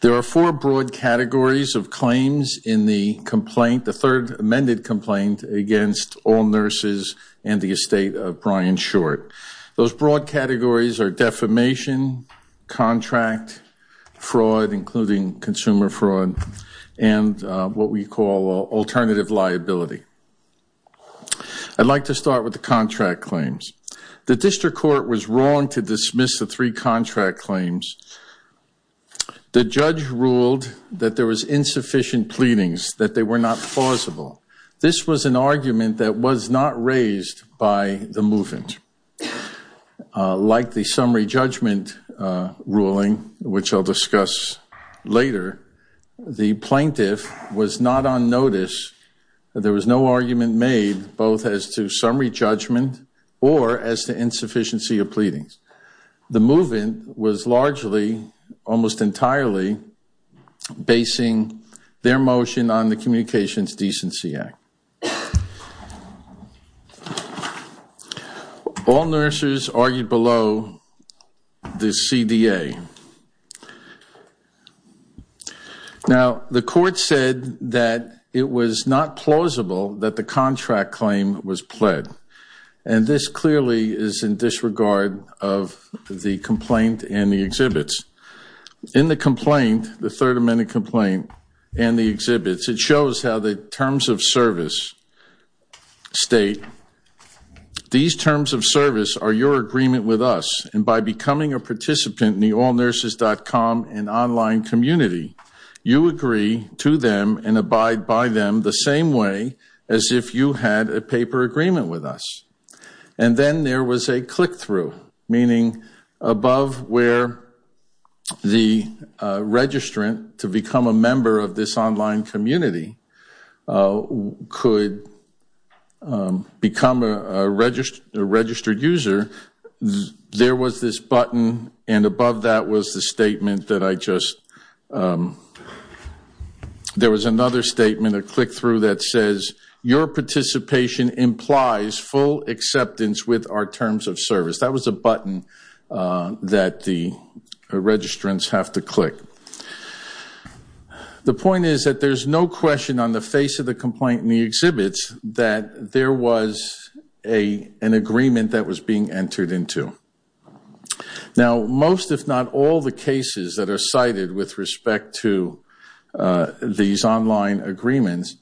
There are four broad categories of claims in the complaint, the third amended complaint against Allnurses and the estate of Brian Short. Those broad categories are defamation, contract, fraud, including consumer fraud, and what we call alternative liability. I'd like to start with the contract claims. The district court was wrong to dismiss the three contract claims. The judge ruled that there was insufficient pleadings, that they were not plausible. This was an argument that was not raised by the movement. Like the summary judgment ruling, which I'll discuss later, the plaintiff was not on notice. There was no argument made, both as to summary judgment or as to insufficiency of pleadings. The movement was largely, almost entirely, basing their motion on the Communications Decency Act. Allnurses argued below the CDA. Now, the court said that it was not plausible that the contract claim was pled. And this clearly is in disregard of the complaint and the exhibits. In the complaint, the third amended complaint, and the exhibits, it shows how the terms of service state, these terms of service are your agreement with us. And by becoming a participant in the allnurses.com and online community, you agree to them and abide by them the same way as if you had a paper agreement with us. And then there was a click through, meaning above where the registrant, to become a member of this online community, could become a registered user, there was this button. And above that was the statement that I just, there was another statement, a click through that says, your participation implies full acceptance with our terms of service. That was a button that the registrants have to click. The point is that there's no question on the face of the complaint and the exhibits that there was an agreement that was being entered into. Now, most if not all the cases that are cited with respect to these online agreements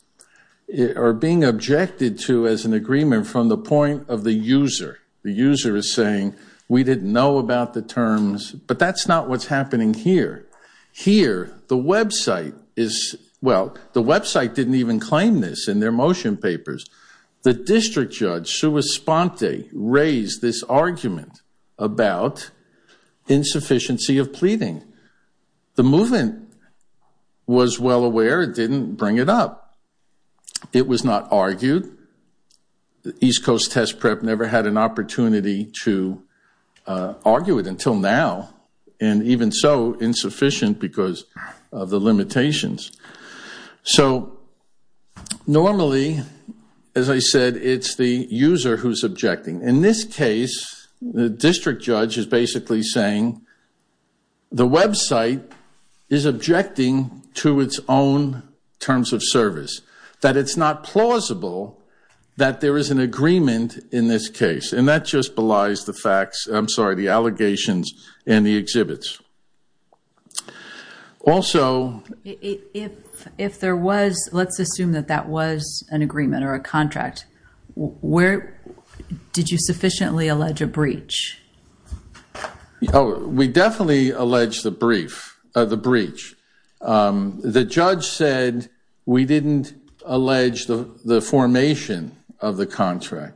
are being objected to as an agreement from the point of the user. The user is saying, we didn't know about the terms, but that's not what's happening here. Here, the website is, well, the website didn't even claim this in their motion papers. The district judge, Sue Esponte, raised this argument about insufficiency of pleading. The movement was well aware. It didn't bring it up. It was not argued. East Coast Test Prep never had an opportunity to argue it until now. And even so, insufficient because of the limitations. So normally, as I said, it's the user who's objecting. In this case, the district judge is basically saying the website is objecting to its own terms of service, that it's not plausible that there is an agreement in this case. And that just belies the facts, I'm sorry, the allegations and the exhibits. Also, if there was, let's assume that that was an agreement or a contract, where did you sufficiently allege a breach? We definitely allege the breach. The judge said we didn't allege the formation of the contract.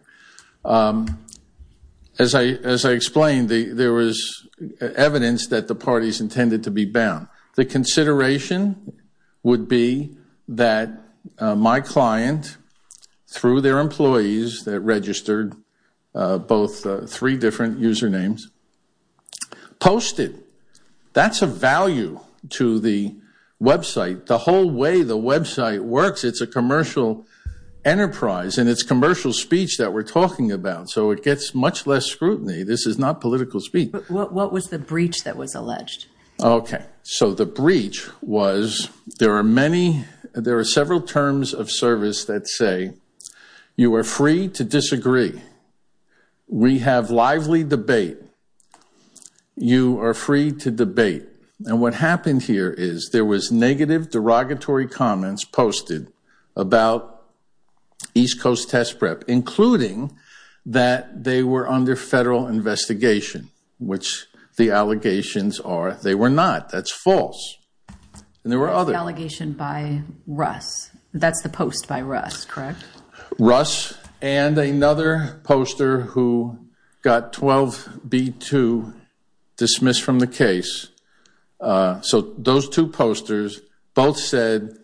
As I explained, there was evidence that the parties intended to be bound. The consideration would be that my client, through their employees that registered both three different usernames, posted. That's a value to the website. The whole way the website works, it's a commercial enterprise. And it's commercial speech that we're talking about. So it gets much less scrutiny. This is not political speech. What was the breach that was alleged? OK, so the breach was there are several terms of service that say, you are free to disagree. We have lively debate. You are free to debate. And what happened here is there was negative derogatory comments posted about East Coast Test Prep, including that they were under federal investigation, which the allegations are they were not. That's false. And there were other. What is the allegation by Russ? That's the post by Russ, correct? Russ and another poster who got 12B2 dismissed from the case. So those two posters both said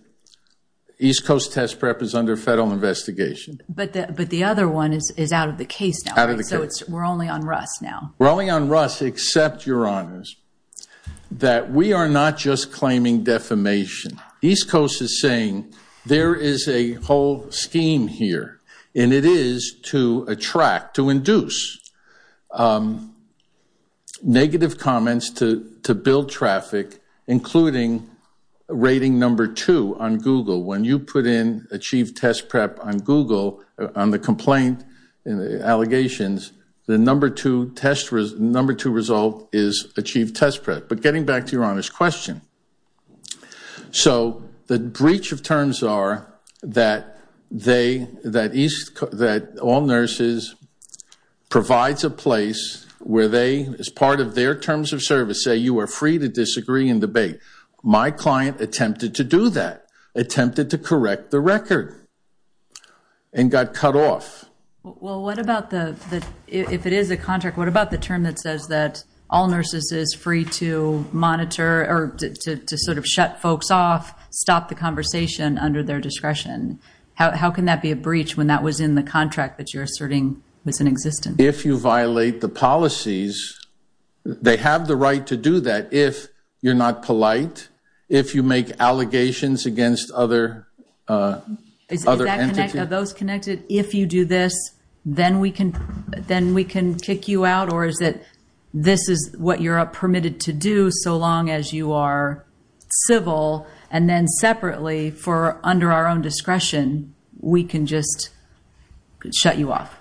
East Coast Test Prep is under federal investigation. But the other one is out of the case now. Out of the case. We're only on Russ now. We're only on Russ, except, Your Honors, that we are not just claiming defamation. East Coast is saying there is a whole scheme here. And it is to attract, to induce negative comments to build traffic, including rating number two on Google. When you put in Achieve Test Prep on Google, on the complaint allegations, the number two result is Achieve Test Prep. But getting back to Your Honors' question. So the breach of terms are that all nurses provides a place where they, as part of their terms of service, say you are free to disagree and debate. My client attempted to do that, attempted to correct the record and got cut off. Well, what about the, if it is a contract, what about the term that says that all nurses is or to sort of shut folks off, stop the conversation under their discretion? How can that be a breach when that was in the contract that you're asserting was in existence? If you violate the policies, they have the right to do that if you're not polite, if you make allegations against other entities. Are those connected? If you do this, then we can kick you out? Or is it this is what you're permitted to do so long as you are civil, and then separately, for under our own discretion, we can just shut you off?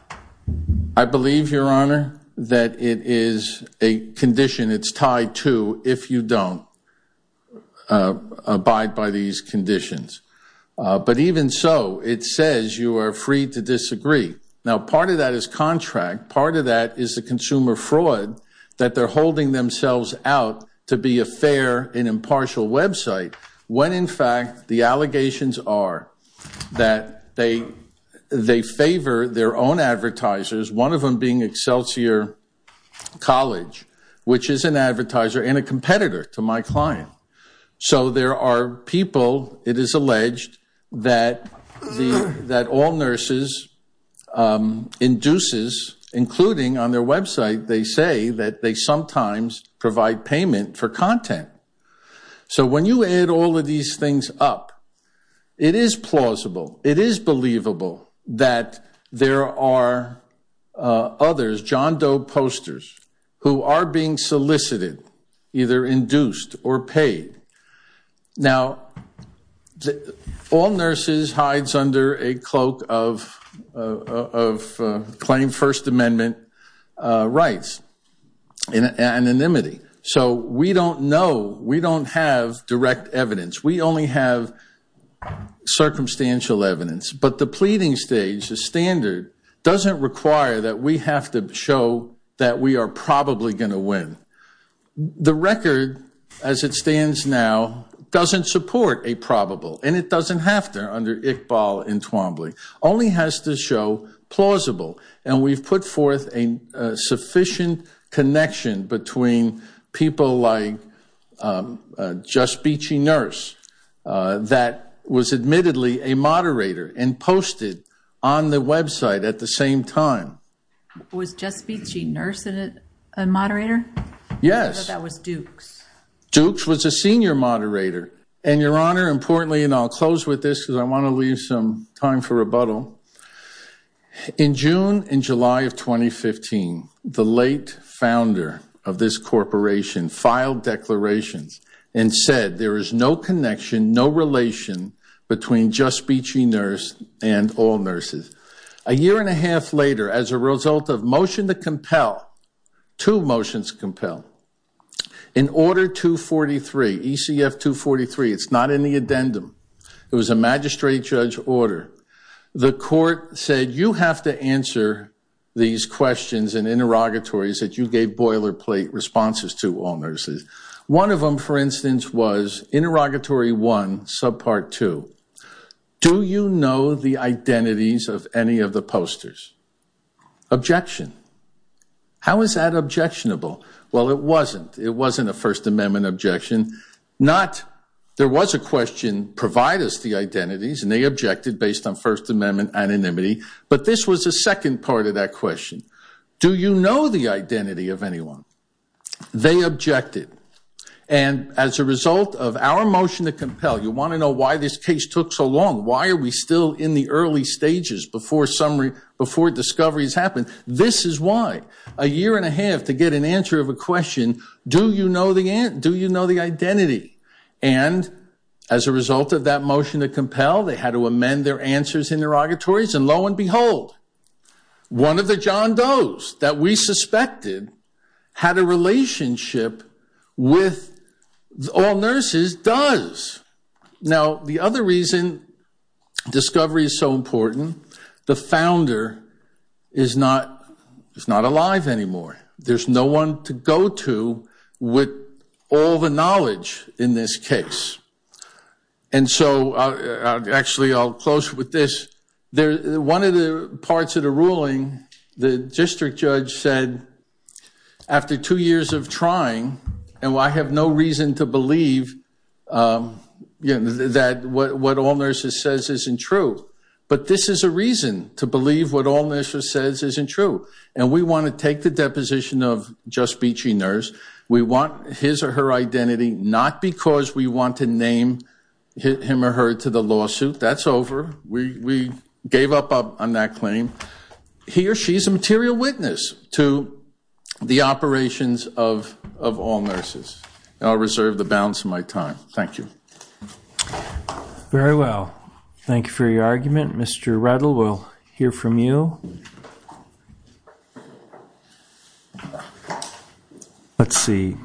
I believe, Your Honor, that it is a condition. It's tied to if you don't abide by these conditions. But even so, it says you are free to disagree. Now, part of that is contract. Part of that is the consumer fraud that they're holding themselves out to be a fair and impartial website when, in fact, the allegations are that they favor their own advertisers, one of them being Excelsior College, which is an advertiser and a competitor to my client. So there are people, it is alleged, that all nurses induces, including on their website, they say that they sometimes provide payment for content. So when you add all of these things up, it is plausible. It is believable that there are others, John Doe posters, who are being solicited, either induced or paid. Now, all nurses hides under a cloak of claim First Amendment rights and anonymity. So we don't know. We don't have direct evidence. We only have circumstantial evidence. But the pleading stage, the standard, doesn't require that we have to show that we are probably going to win. The record, as it stands now, doesn't support a probable. And it doesn't have to under Iqbal and Twombly. Only has to show plausible. And we've put forth a sufficient connection between people like Just Beachy Nurse that was admittedly a moderator and posted on the website at the same time. Was Just Beachy Nurse a moderator? Yes. I thought that was Dukes. Dukes was a senior moderator. And Your Honor, importantly, and I'll close with this because I want to leave some time for rebuttal. In June and July of 2015, the late founder of this corporation filed declarations and said there is no connection, no relation between Just Beachy Nurse and all nurses. A year and a half later, as a result of motion to compel, two motions compel, in order 243, ECF 243, it's not in the addendum. It was a magistrate judge order. The court said you have to answer these questions and interrogatories that you gave boilerplate responses to all nurses. One of them, for instance, was interrogatory one, subpart two. Do you know the identities of any of the posters? Objection. How is that objectionable? Well, it wasn't. It wasn't a First Amendment objection. There was a question, provide us the identities, and they objected based on First Amendment anonymity. But this was a second part of that question. Do you know the identity of anyone? They objected. And as a result of our motion to compel, you want to know why this case took so long. Why are we still in the early stages before discovery has happened? This is why. A year and a half to get an answer of a question, do you know the identity? And as a result of that motion to compel, they had to amend their answers and interrogatories, and lo and behold, one of the John Does that we suspected had a relationship with all nurses does. Now, the other reason discovery is so important, the founder is not alive anymore. There's no one to go to with all the knowledge in this case. And so, actually, I'll close with this. One of the parts of the ruling, the district judge said, after two years of trying, and I have no reason to believe that what all nurses says isn't true, but this is a reason to believe what all nurses says isn't true. And we want to take the deposition of Just Beachy Nurse. We want his or her identity, not because we want to name him or her to the lawsuit. That's over. We gave up on that claim. He or she is a material witness to the operations of all nurses. I'll reserve the balance of my time. Thank you. Very well. Thank you for your argument. Mr. Redl, we'll hear from you. Let's see.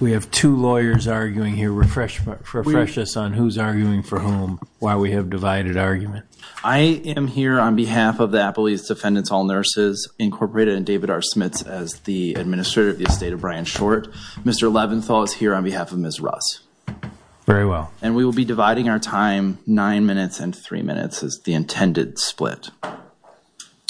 We have two lawyers arguing here. Refresh us on who's arguing for whom while we have divided argument. I am here on behalf of the Appalachian Defendants All Nurses Incorporated and David R. Smits as the Administrator of the Estate of Brian Short. Mr. Leventhal is here on behalf of Ms. Russ. Very well. And we will be dividing our time nine minutes and three minutes as the intended split.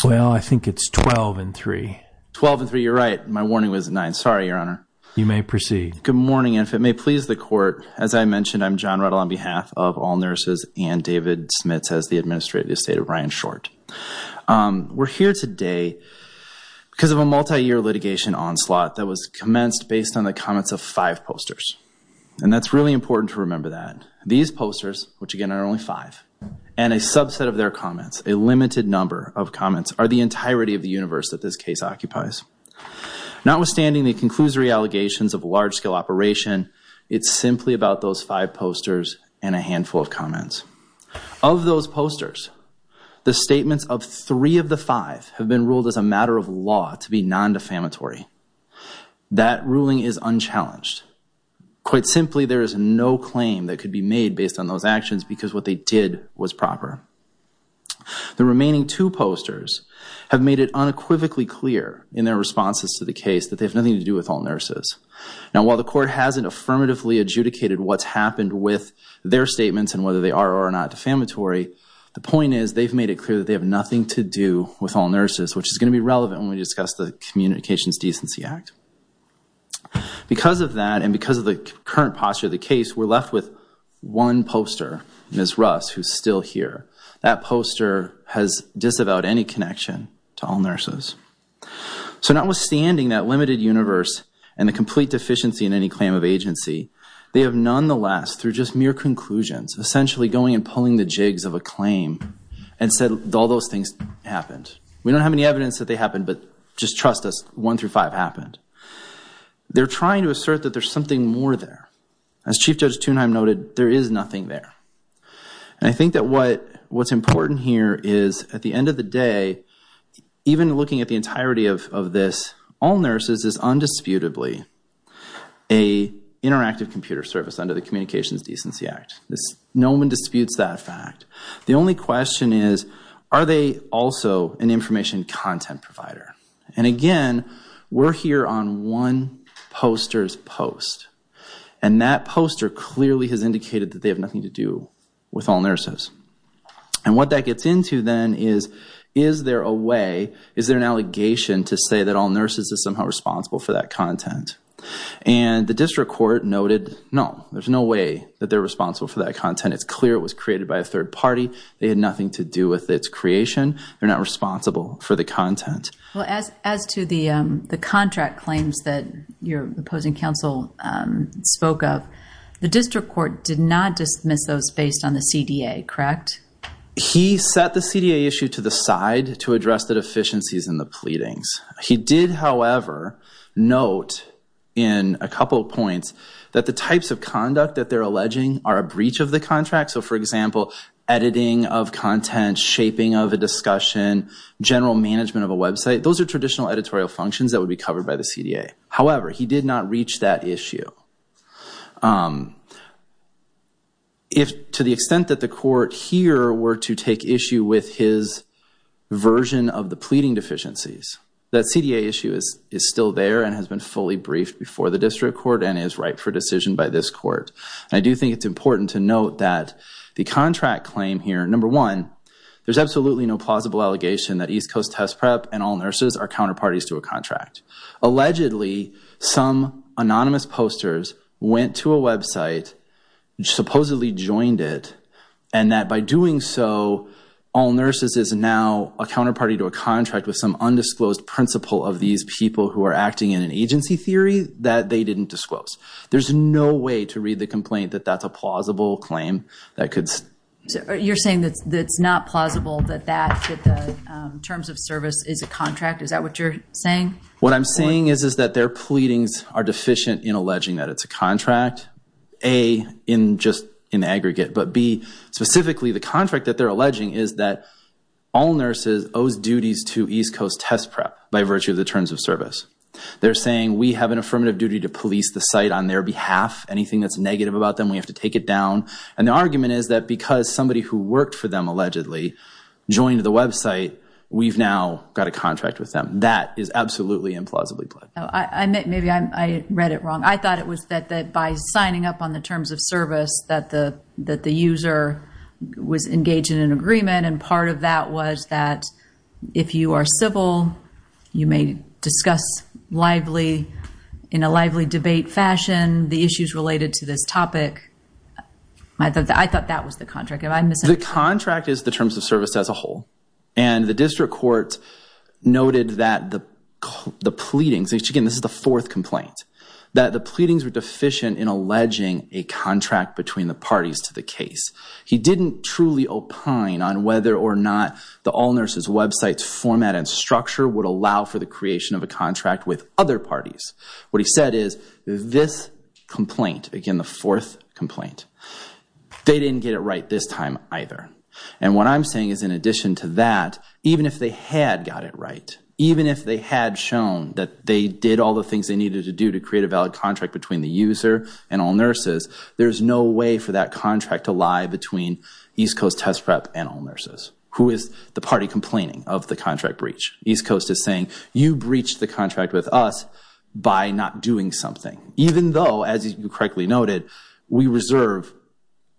Well, I think it's 12 and three. 12 and three, you're right. My warning was nine. Sorry, Your Honor. You may proceed. Good morning, and if it may please the court, as I mentioned, I'm John Redl on behalf of All Nurses and David Smits as the Administrator of the Estate of Brian Short. We're here today because of a multi-year litigation onslaught that was commenced based on the comments of five posters. And that's really important to remember that. These posters, which again are only five, and a subset of their comments, a limited number of comments, are the entirety of the universe that this case occupies. Notwithstanding the conclusory allegations of large-scale operation, it's simply about those five posters and a handful of comments. Of those posters, the statements of three of the five have been ruled as a matter of law to be non-defamatory. That ruling is unchallenged. Quite simply, there is no claim that could be made based on those actions because what they did was proper. The remaining two posters have made it unequivocally clear in their responses to the case that they have nothing to do with All Nurses. Now, while the court hasn't affirmatively adjudicated what's happened with their statements and whether they are or are not defamatory, the point is they've made it clear that they have nothing to do with All Nurses, which is gonna be relevant when we discuss the Communications Decency Act. Because of that and because of the current posture of the case, we're left with one poster, Ms. Russ, who's still here. That poster has disavowed any connection to All Nurses. So notwithstanding that limited universe and the complete deficiency in any claim of agency, they have nonetheless, through just mere conclusions, essentially going and pulling the jigs of a claim and said all those things happened. We don't have any evidence that they happened, but just trust us, one through five happened. They're trying to assert that there's something more there. As Chief Judge Tunheim noted, there is nothing there. And I think that what's important here is at the end of the day, even looking at the entirety of this, All Nurses is undisputably a interactive computer service under the Communications Decency Act. No one disputes that fact. The only question is, are they also an information content provider? And again, we're here on one poster's post. And that poster clearly has indicated that they have nothing to do with All Nurses. And what that gets into then is, is there a way, is there an allegation to say that All Nurses is somehow responsible for that content? And the District Court noted, no, there's no way that they're responsible for that content. It's clear it was created by a third party. They had nothing to do with its creation. They're not responsible for the content. Well, as to the contract claims that your opposing counsel spoke of, the District Court did not dismiss those based on the CDA, correct? He set the CDA issue to the side to address the deficiencies in the pleadings. He did, however, note in a couple of points that the types of conduct that they're alleging are a breach of the contract. So for example, editing of content, shaping of a discussion, general management of a website, those are traditional editorial functions that would be covered by the CDA. However, he did not reach that issue. If to the extent that the court here were to take issue with his version of the pleading deficiencies, that CDA issue is still there and has been fully briefed before the District Court and is ripe for decision by this court. I do think it's important to note that the contract claim here, number one, there's absolutely no plausible allegation that East Coast Test Prep and All Nurses are counterparties to a contract. Allegedly, some anonymous posters went to a website, supposedly joined it, and that by doing so, All Nurses is now a counterparty to a contract with some undisclosed principal of these people who are acting in an agency theory that they didn't disclose. There's no way to read the complaint that that's a plausible claim that could... You're saying that it's not plausible that the terms of service is a contract? Is that what you're saying? What I'm saying is that their pleadings are deficient in alleging that it's a contract, A, in just an aggregate, but B, specifically the contract that they're alleging is that All Nurses owes duties to East Coast Test Prep by virtue of the terms of service. They're saying, we have an affirmative duty to police the site on their behalf. Anything that's negative about them, we have to take it down. And the argument is that because somebody who worked for them allegedly joined the website, we've now got a contract with them. That is absolutely implausibly plead. Maybe I read it wrong. I thought it was that by signing up on the terms of service, that the user was engaged in an agreement, and part of that was that if you are civil, you may discuss lively, in a lively debate fashion, the issues related to this topic. I thought that was the contract. The contract is the terms of service as a whole. And the district court noted that the pleadings, again, this is the fourth complaint, that the pleadings were deficient in alleging a contract between the parties to the case. He didn't truly opine on whether or not the All Nurses website's format and structure would allow for the creation of a contract with other parties. What he said is, this complaint, again, the fourth complaint, they didn't get it right this time either. And what I'm saying is in addition to that, even if they had got it right, even if they had shown that they did all the things they needed to do to create a valid contract between the user and All Nurses, there's no way for that contract to lie between East Coast Test Prep and All Nurses. Who is the party complaining of the contract breach? East Coast is saying, you breached the contract with us by not doing something. Even though, as you correctly noted, we reserve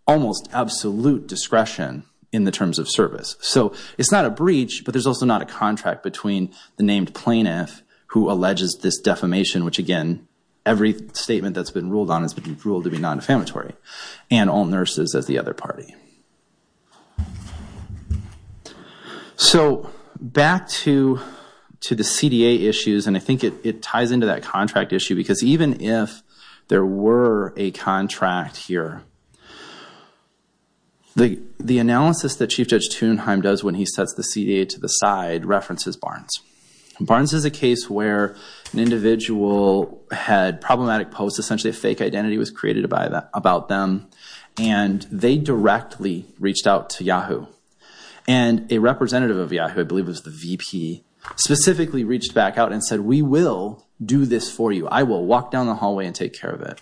almost absolute discretion in the terms of service. So it's not a breach, but there's also not a contract between the named plaintiff who alleges this defamation, which again, every statement that's been ruled on has been ruled to be non-defamatory, and All Nurses as the other party. So back to the CDA issues, and I think it ties into that contract issue, because even if there were a contract here, the analysis that Chief Judge Thunheim does when he sets the CDA to the side references Barnes. And Barnes is a case where an individual had problematic posts, essentially a fake identity was created about them, and they directly reached out to Yahoo. And a representative of Yahoo, I believe it was the VP, specifically reached back out and said, we will do this for you. I will walk down the hallway and take care of it.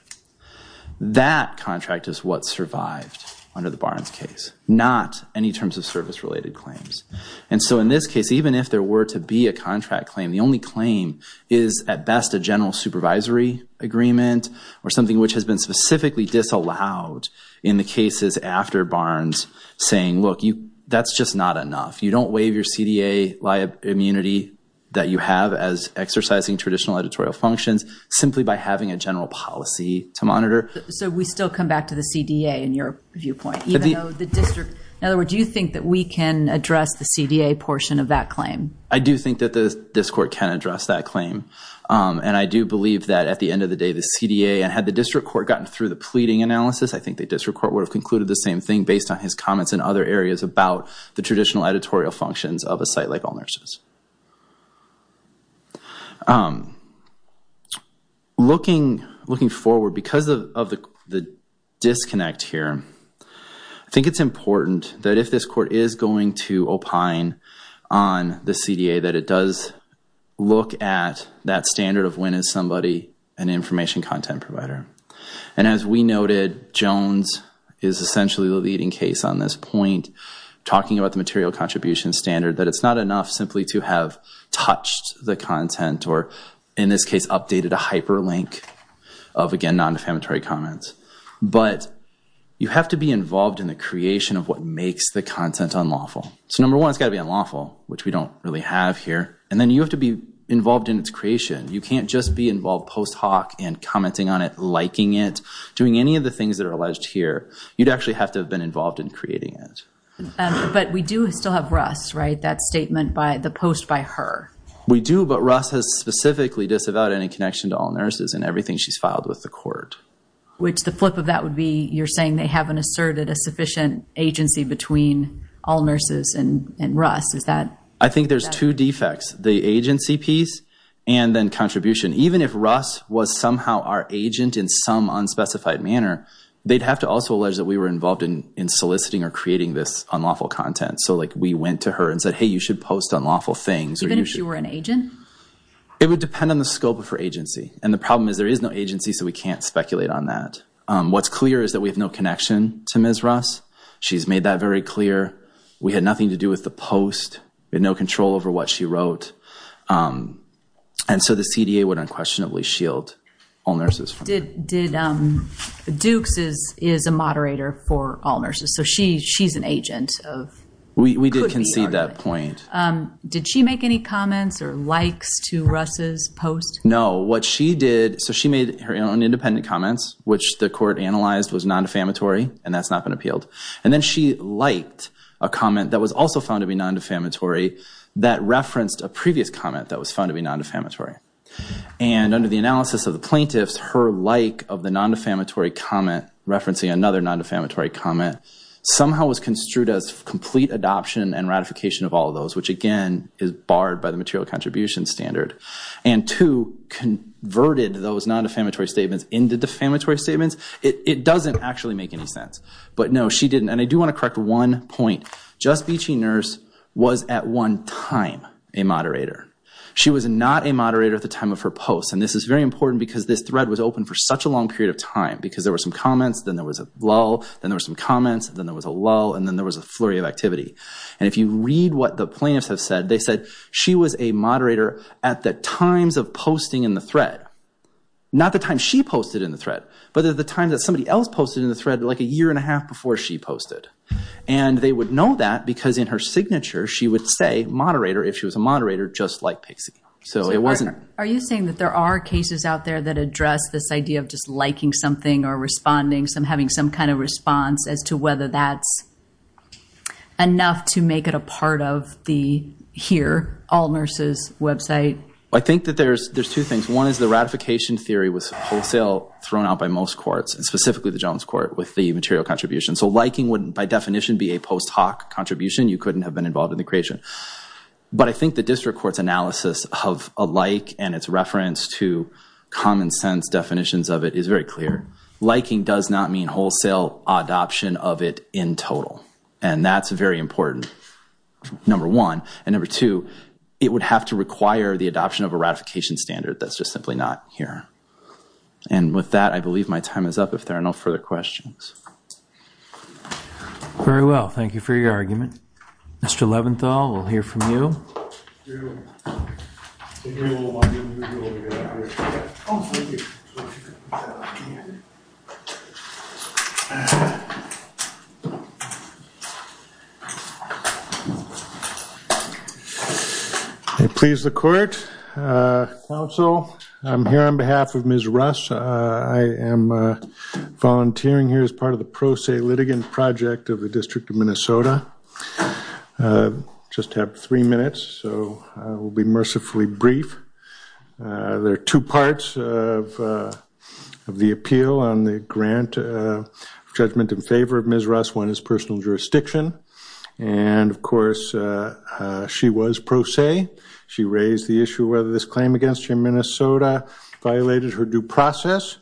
That contract is what survived under the Barnes case, not any terms of service related claims. And so in this case, even if there were to be a contract claim, the only claim is at best a general supervisory agreement or something which has been specifically disallowed in the cases after Barnes saying, that's just not enough. You don't waive your CDA liability immunity that you have as exercising traditional editorial functions simply by having a general policy to monitor. So we still come back to the CDA in your viewpoint, even though the district, in other words, do you think that we can address the CDA portion of that claim? I do think that this court can address that claim. And I do believe that at the end of the day, the CDA and had the district court gotten through the pleading analysis, I think the district court would have concluded the same thing based on his comments in other areas about the traditional editorial functions of a site like All Nurses. Looking forward, because of the disconnect here, I think it's important that if this court is going to opine on the CDA, that it does look at that standard of when is somebody an information content provider. And as we noted, Jones is essentially the leading case on this point, talking about the material contribution standard, that it's not enough simply to have touched the content or in this case, updated a hyperlink of again, non defamatory comments. But you have to be involved in the creation of what makes the content unlawful. So number one, it's gotta be unlawful, which we don't really have here. And then you have to be involved in its creation. You can't just be involved post hoc and commenting on it, liking it, doing any of the things that are alleged here, you'd actually have to have been involved in creating it. But we do still have Russ, right? That statement by the post by her. We do, but Russ has specifically disavowed any connection to All Nurses and everything she's filed with the court. Which the flip of that would be, you're saying they haven't asserted a sufficient agency between All Nurses and Russ, is that? I think there's two defects, the agency piece and then contribution. Even if Russ was somehow our agent in some unspecified manner, they'd have to also allege that we were involved in soliciting or creating this unlawful content. So like we went to her and said, hey, you should post unlawful things. Even if you were an agent? It would depend on the scope of her agency. And the problem is there is no agency so we can't speculate on that. What's clear is that we have no connection to Ms. Russ. She's made that very clear. We had nothing to do with the post. We had no control over what she wrote. And so the CDA would unquestionably shield All Nurses from that. Did, Dukes is a moderator for All Nurses. So she's an agent of, could be arguably. We did concede that point. Did she make any comments or likes to Russ's post? No, what she did, so she made her own independent comments, which the court analyzed was non-defamatory and that's not been appealed. And then she liked a comment that was also found to be non-defamatory that referenced a previous comment that was found to be non-defamatory. And under the analysis of the plaintiffs, her like of the non-defamatory comment referencing another non-defamatory comment somehow was construed as complete adoption and ratification of all of those, which again is barred by the material contribution standard. And two, converted those non-defamatory statements into defamatory statements. It doesn't actually make any sense. But no, she didn't. And I do want to correct one point. Just Beachy Nurse was at one time a moderator. She was not a moderator at the time of her post. And this is very important because this thread was open for such a long period of time because there were some comments, then there was a lull, then there were some comments, then there was a lull and then there was a flurry of activity. And if you read what the plaintiffs have said, they said she was a moderator at the times of posting in the thread. Not the time she posted in the thread, but at the time that somebody else posted in the thread like a year and a half before she posted. And they would know that because in her signature, she would say moderator if she was a moderator just like Pixie. So it wasn't. Are you saying that there are cases out there that address this idea of just liking something or responding, having some kind of response as to whether that's enough to make it a part of the Here All Nurses website? I think that there's two things. One is the ratification theory was wholesale thrown out by most courts and specifically the Jones Court with the material contribution. So liking wouldn't by definition be a post hoc contribution. You couldn't have been involved in the creation. But I think the district court's analysis of a like and its reference to common sense definitions of it is very clear. Liking does not mean wholesale adoption of it in total. And that's very important, number one. And number two, it would have to require the adoption of a ratification standard that's just simply not here. And with that, I believe my time is up if there are no further questions. Very well, thank you for your argument. Mr. Leventhal, we'll hear from you. Please the court, counsel. I'm here on behalf of Ms. Russ. I am volunteering here as part of the Pro Se Litigant Project of the District of Minnesota. Just have three minutes, so I will be mercifully brief. There are two parts of the appeal on the grant of judgment in favor of Ms. Russ. One is personal jurisdiction. And of course, she was pro se. She raised the issue whether this claim against her in Minnesota violated her due process.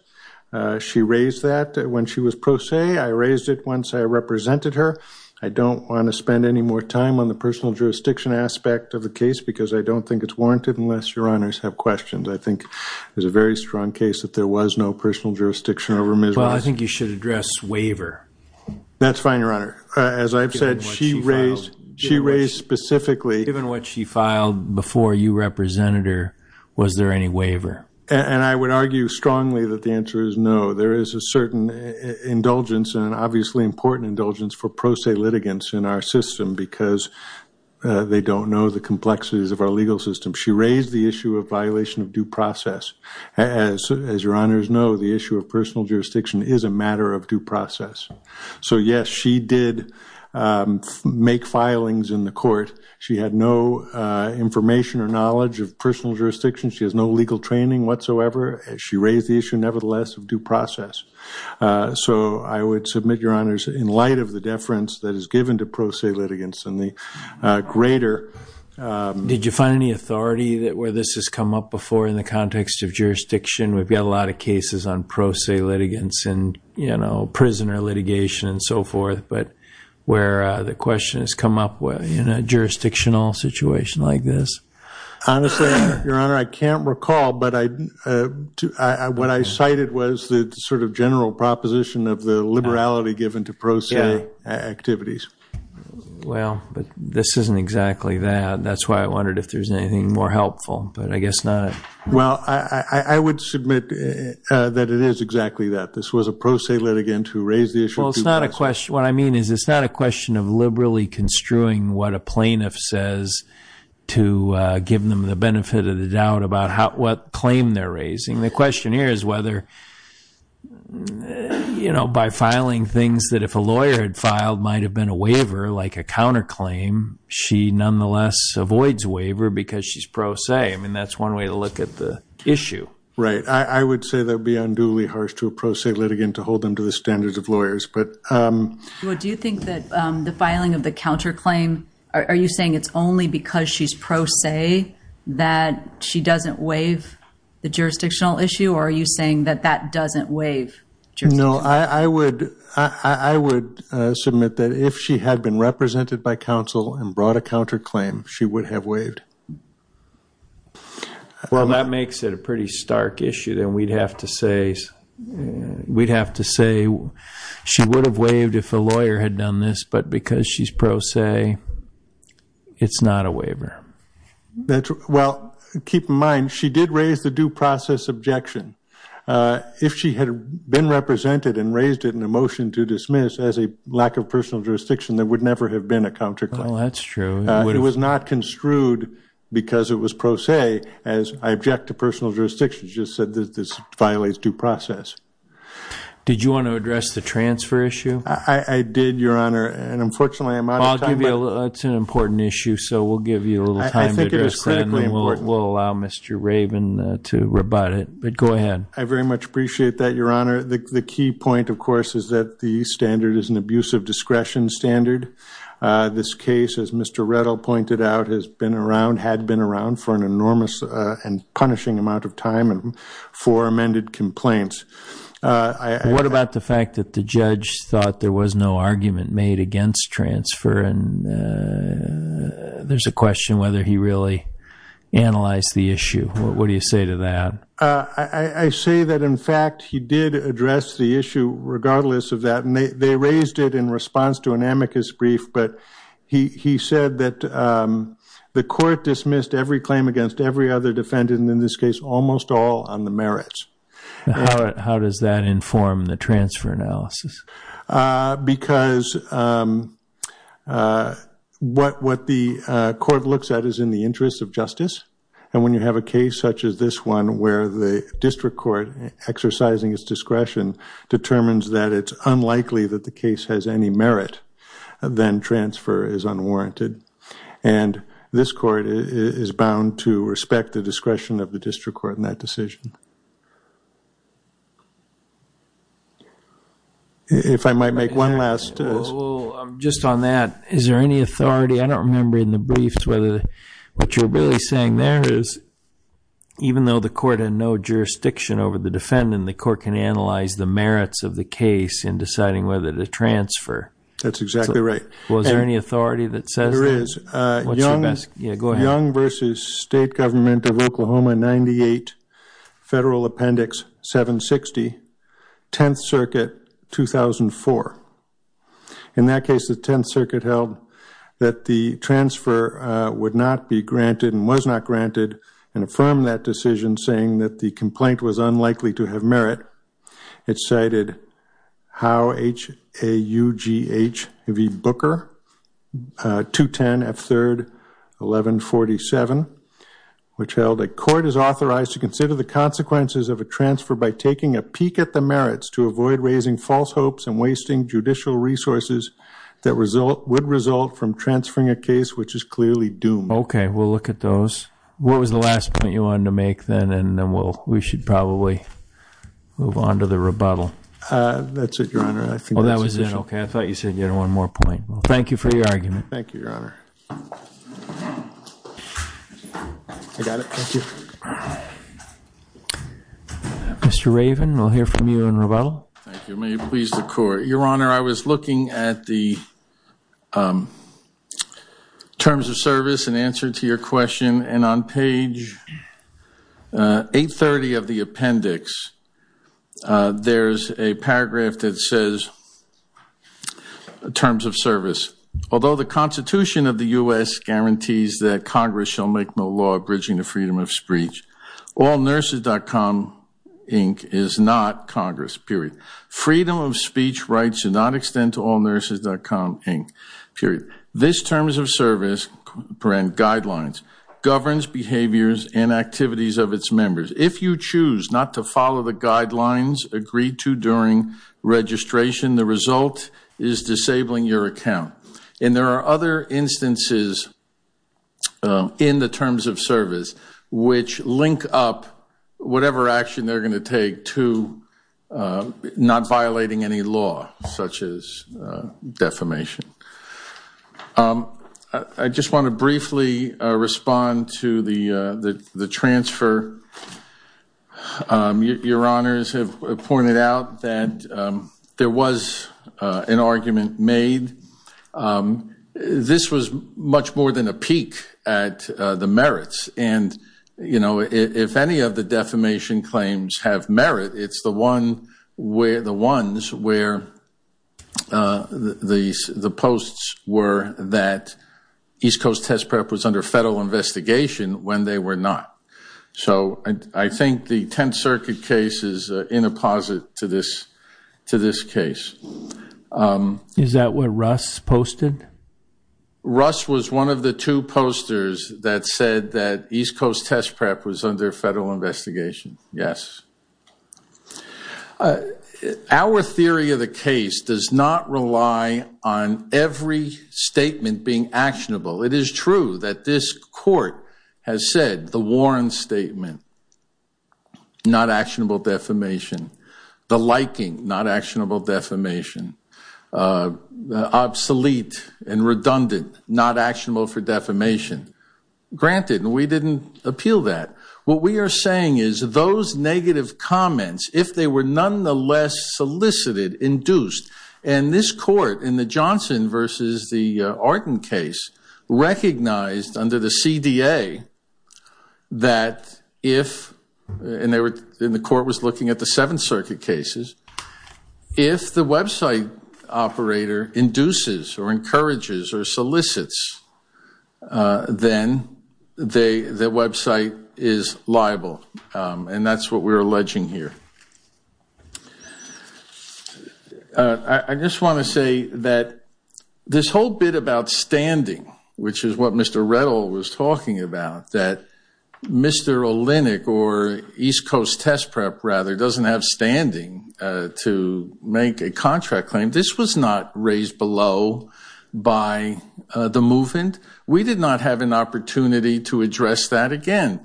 She raised that when she was pro se. I raised it once I represented her. I don't want to spend any more time on the personal jurisdiction aspect of the case because I don't think it's warranted unless your honors have questions. I think it's a very strong case that there was no personal jurisdiction over Ms. Russ. Well, I think you should address waiver. That's fine, your honor. As I've said, she raised specifically. Given what she filed before you represented her, was there any waiver? And I would argue strongly that the answer is no. There is a certain indulgence and obviously important indulgence for pro se litigants in our system because they don't know the complexities of our legal system. She raised the issue of violation of due process. As your honors know, the issue of personal jurisdiction is a matter of due process. So yes, she did make filings in the court. She had no information or knowledge of personal jurisdiction. She has no legal training whatsoever. She raised the issue, nevertheless, of due process. So I would submit, your honors, in light of the deference that is given to pro se litigants and the greater. Did you find any authority where this has come up before in the context of jurisdiction? We've got a lot of cases on pro se litigants and prisoner litigation and so forth, but where the question has come up in a jurisdictional situation like this? Honestly, your honor, I can't recall. But what I cited was the sort of general proposition of the liberality given to pro se activities. Well, but this isn't exactly that. That's why I wondered if there's anything more helpful. But I guess not. Well, I would submit that it is exactly that. This was a pro se litigant who raised the issue of due process. What I mean is it's not a question of liberally construing what a plaintiff says to give them the benefit of the doubt about what claim they're raising. The question here is whether by filing things that if a lawyer had filed might have been a waiver, like a counterclaim, she nonetheless avoids waiver because she's pro se. I mean, that's one way to look at the issue. Right, I would say that would be unduly harsh to a pro se litigant to hold them to the standards of lawyers. Well, do you think that the filing of the counterclaim, are you saying it's only because she's pro se that she doesn't waive the jurisdictional issue? Or are you saying that that doesn't waive jurisdiction? No, I would submit that if she had been represented by counsel and brought a counterclaim, she would have waived. Well, that makes it a pretty stark issue. Then we'd have to say she would have waived if a lawyer had done this. But because she's pro se, it's not a waiver. Well, keep in mind, she did raise the due process objection. If she had been represented and raised it in a motion to dismiss as a lack of personal jurisdiction, there would never have been a counterclaim. Well, that's true. It was not construed because it was pro se, as I object to personal jurisdiction. She just said that this violates due process. Did you want to address the transfer issue? I did, Your Honor. And unfortunately, I'm out of time. It's an important issue. So we'll give you a little time to address that. I think it is critically important. And we'll allow Mr. Raven to rebut it. But go ahead. I very much appreciate that, Your Honor. The key point, of course, is that the standard is an abuse of discretion standard. This case, as Mr. Rettel pointed out, has been around, had been around, for an enormous and punishing amount of time and for amended complaints. And what about the fact that the judge thought there was no argument made against transfer? And there's a question whether he really analyzed the issue. What do you say to that? I say that, in fact, he did address the issue, regardless of that. And they raised it in response to an amicus brief. But he said that the court dismissed every claim against every other defendant, and in this case, almost all on the merits. How does that inform the transfer analysis? Because what the court looks at is in the interest of justice. And when you have a case such as this one, where the district court, exercising its discretion, determines that it's unlikely that the case has any merit, then transfer is unwarranted. And this court is bound to respect the discretion of the district court in that decision. If I might make one last. Just on that, is there any authority? I don't remember in the briefs whether what you're really saying there is, even though the court had no jurisdiction over the defendant, the court can analyze the merits of the case in deciding whether to transfer. That's exactly right. Was there any authority that says that? There is. What's your best? Yeah, go ahead. Young versus state government of Oklahoma, 98, federal appendix 760, 10th Circuit, 2004. In that case, the 10th Circuit held that the transfer would not be granted, and was not granted, and affirmed that decision, saying that the complaint was unlikely to have merit. It cited how HAUGHV Booker, 210 at 3rd, 1147, which held a court is authorized to consider the consequences of a transfer by taking a peek at the merits to avoid raising false hopes and wasting judicial resources that would result from transferring a case which is clearly doomed. OK, we'll look at those. What was the last point you wanted to make then? And then we should probably move on to the rebuttal. That's it, Your Honor. Oh, that was it. OK, I thought you said you had one more point. Thank you for your argument. Thank you, Your Honor. I got it. Thank you. Mr. Raven, we'll hear from you in rebuttal. Thank you. May it please the court. Your Honor, I was looking at the terms of service in answer to your question. And on page 830 of the appendix, there's a paragraph that says, terms of service. Although the Constitution of the US guarantees that Congress shall make no law abridging the freedom of speech, allnurses.com, Inc., is not Congress, period. Freedom of speech rights should not extend to allnurses.com, Inc., period. This terms of service guidelines governs behaviors and activities of its members. If you choose not to follow the guidelines agreed to during registration, the result is disabling your account. And there are other instances in the terms of service which link up whatever action they're violating any law, such as defamation. I just want to briefly respond to the transfer. Your honors have pointed out that there was an argument made. This was much more than a peek at the merits. And if any of the defamation claims have merit, it's the ones where the posts were that East Coast Test Prep was under federal investigation when they were not. So I think the Tenth Circuit case is in a posit to this case. Is that what Russ posted? Russ was one of the two posters that said that East Coast Test Prep was under federal investigation. Yes. Our theory of the case does not rely on every statement being actionable. It is true that this court has said the Warren statement, not actionable defamation. The liking, not actionable defamation. Obsolete and redundant, not actionable for defamation. Granted, we didn't appeal that. What we are saying is those negative comments, if they were nonetheless solicited, induced. And this court, in the Johnson versus the Arden case, recognized under the CDA that if, and the court was looking at the Seventh Circuit cases, if the website operator induces or encourages or solicits, then the website is liable. And that's what we're alleging here. I just want to say that this whole bit about standing, which is what Mr. Rettel was talking about, that Mr. Olenek, or East Coast Test Prep, rather, doesn't have standing to make a contract claim, this was not raised below by the movement. We did not have an opportunity to address that again.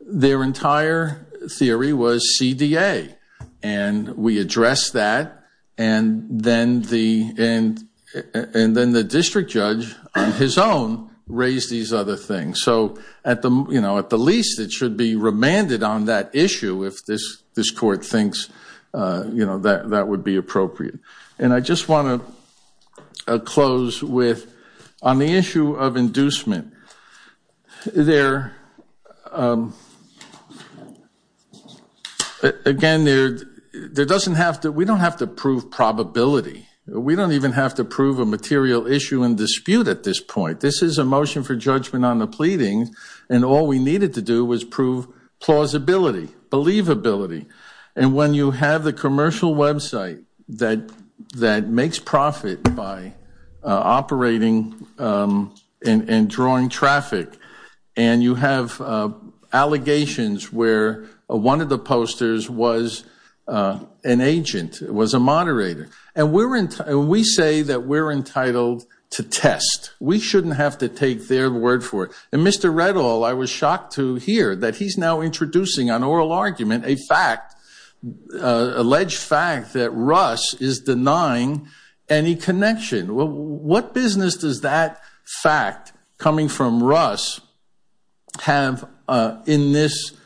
Their entire theory was CDA. And we addressed that. And then the district judge, on his own, raised these other things. So at the least, it should be remanded on that issue if this court thinks that would be appropriate. And I just want to close with, on the issue of inducement, there, again, there doesn't have to, we don't have to prove probability. We don't even have to prove a material issue and dispute at this point. This is a motion for judgment on the pleading. And all we needed to do was prove plausibility, believability. And when you have the commercial website that makes profit by operating and drawing traffic, and you have allegations where one of the posters was an agent, was a moderator. And we say that we're entitled to test. We shouldn't have to take their word for it. And Mr. Rettel, I was shocked to hear that he's now introducing an oral argument, a fact, alleged fact that Russ is denying any connection. Well, what business does that fact coming from Russ have at this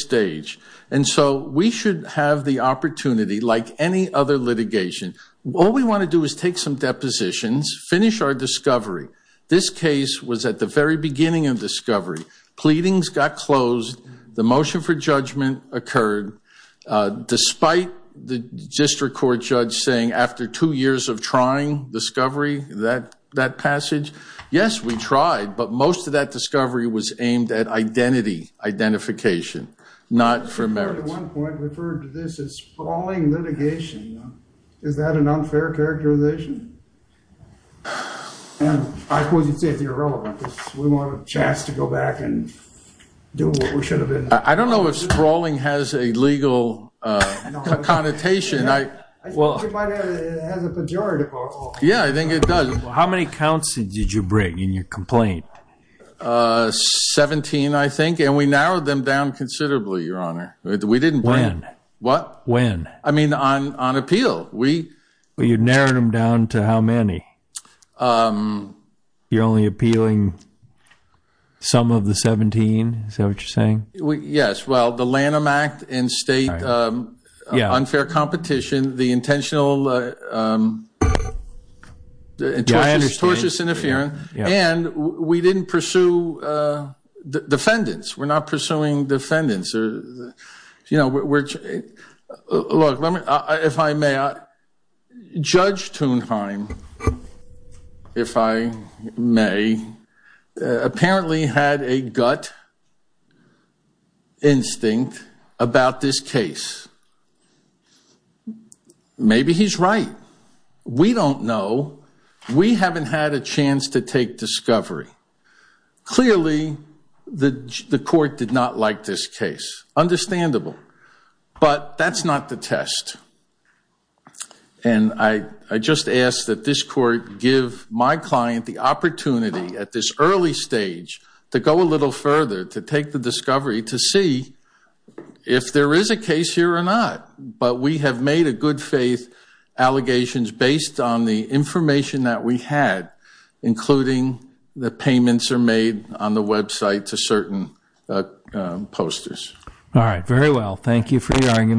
stage? And so we should have the opportunity, like any other litigation, all we want to do is take some depositions, finish our discovery. This case was at the very beginning of discovery. Pleadings got closed. The motion for judgment occurred, despite the district court judge saying after two years of trying, discovery, that passage. Yes, we tried. But most of that discovery was aimed at identity, identification, not for merit. At one point referred to this as sprawling litigation. Is that an unfair characterization? And I suppose you'd say it's irrelevant. We want a chance to go back and do what we should have been. I don't know if sprawling has a legal connotation. Well, it has a pejorative. Yeah, I think it does. How many counts did you bring in your complaint? 17, I think. And we narrowed them down considerably, Your Honor. We didn't bring in. When? What? When? I mean, on appeal. You narrowed them down to how many? You're only appealing some of the 17? Is that what you're saying? Yes. Well, the Lanham Act and state unfair competition, the intentional tortious interference. And we didn't pursue defendants. We're not pursuing defendants. You know, if I may, Judge Thunheim, if I may, apparently had a gut instinct about this case. Maybe he's right. We don't know. We haven't had a chance to take discovery. Clearly, the court did not like this case. Understandable. But that's not the test. And I just ask that this court give my client the opportunity at this early stage to go a little further, to take the discovery, to see if there is a case here or not. But we have made a good faith allegations based on the information that we had, including the payments are made on the website to certain posters. All right, very well. Thank you for your argument.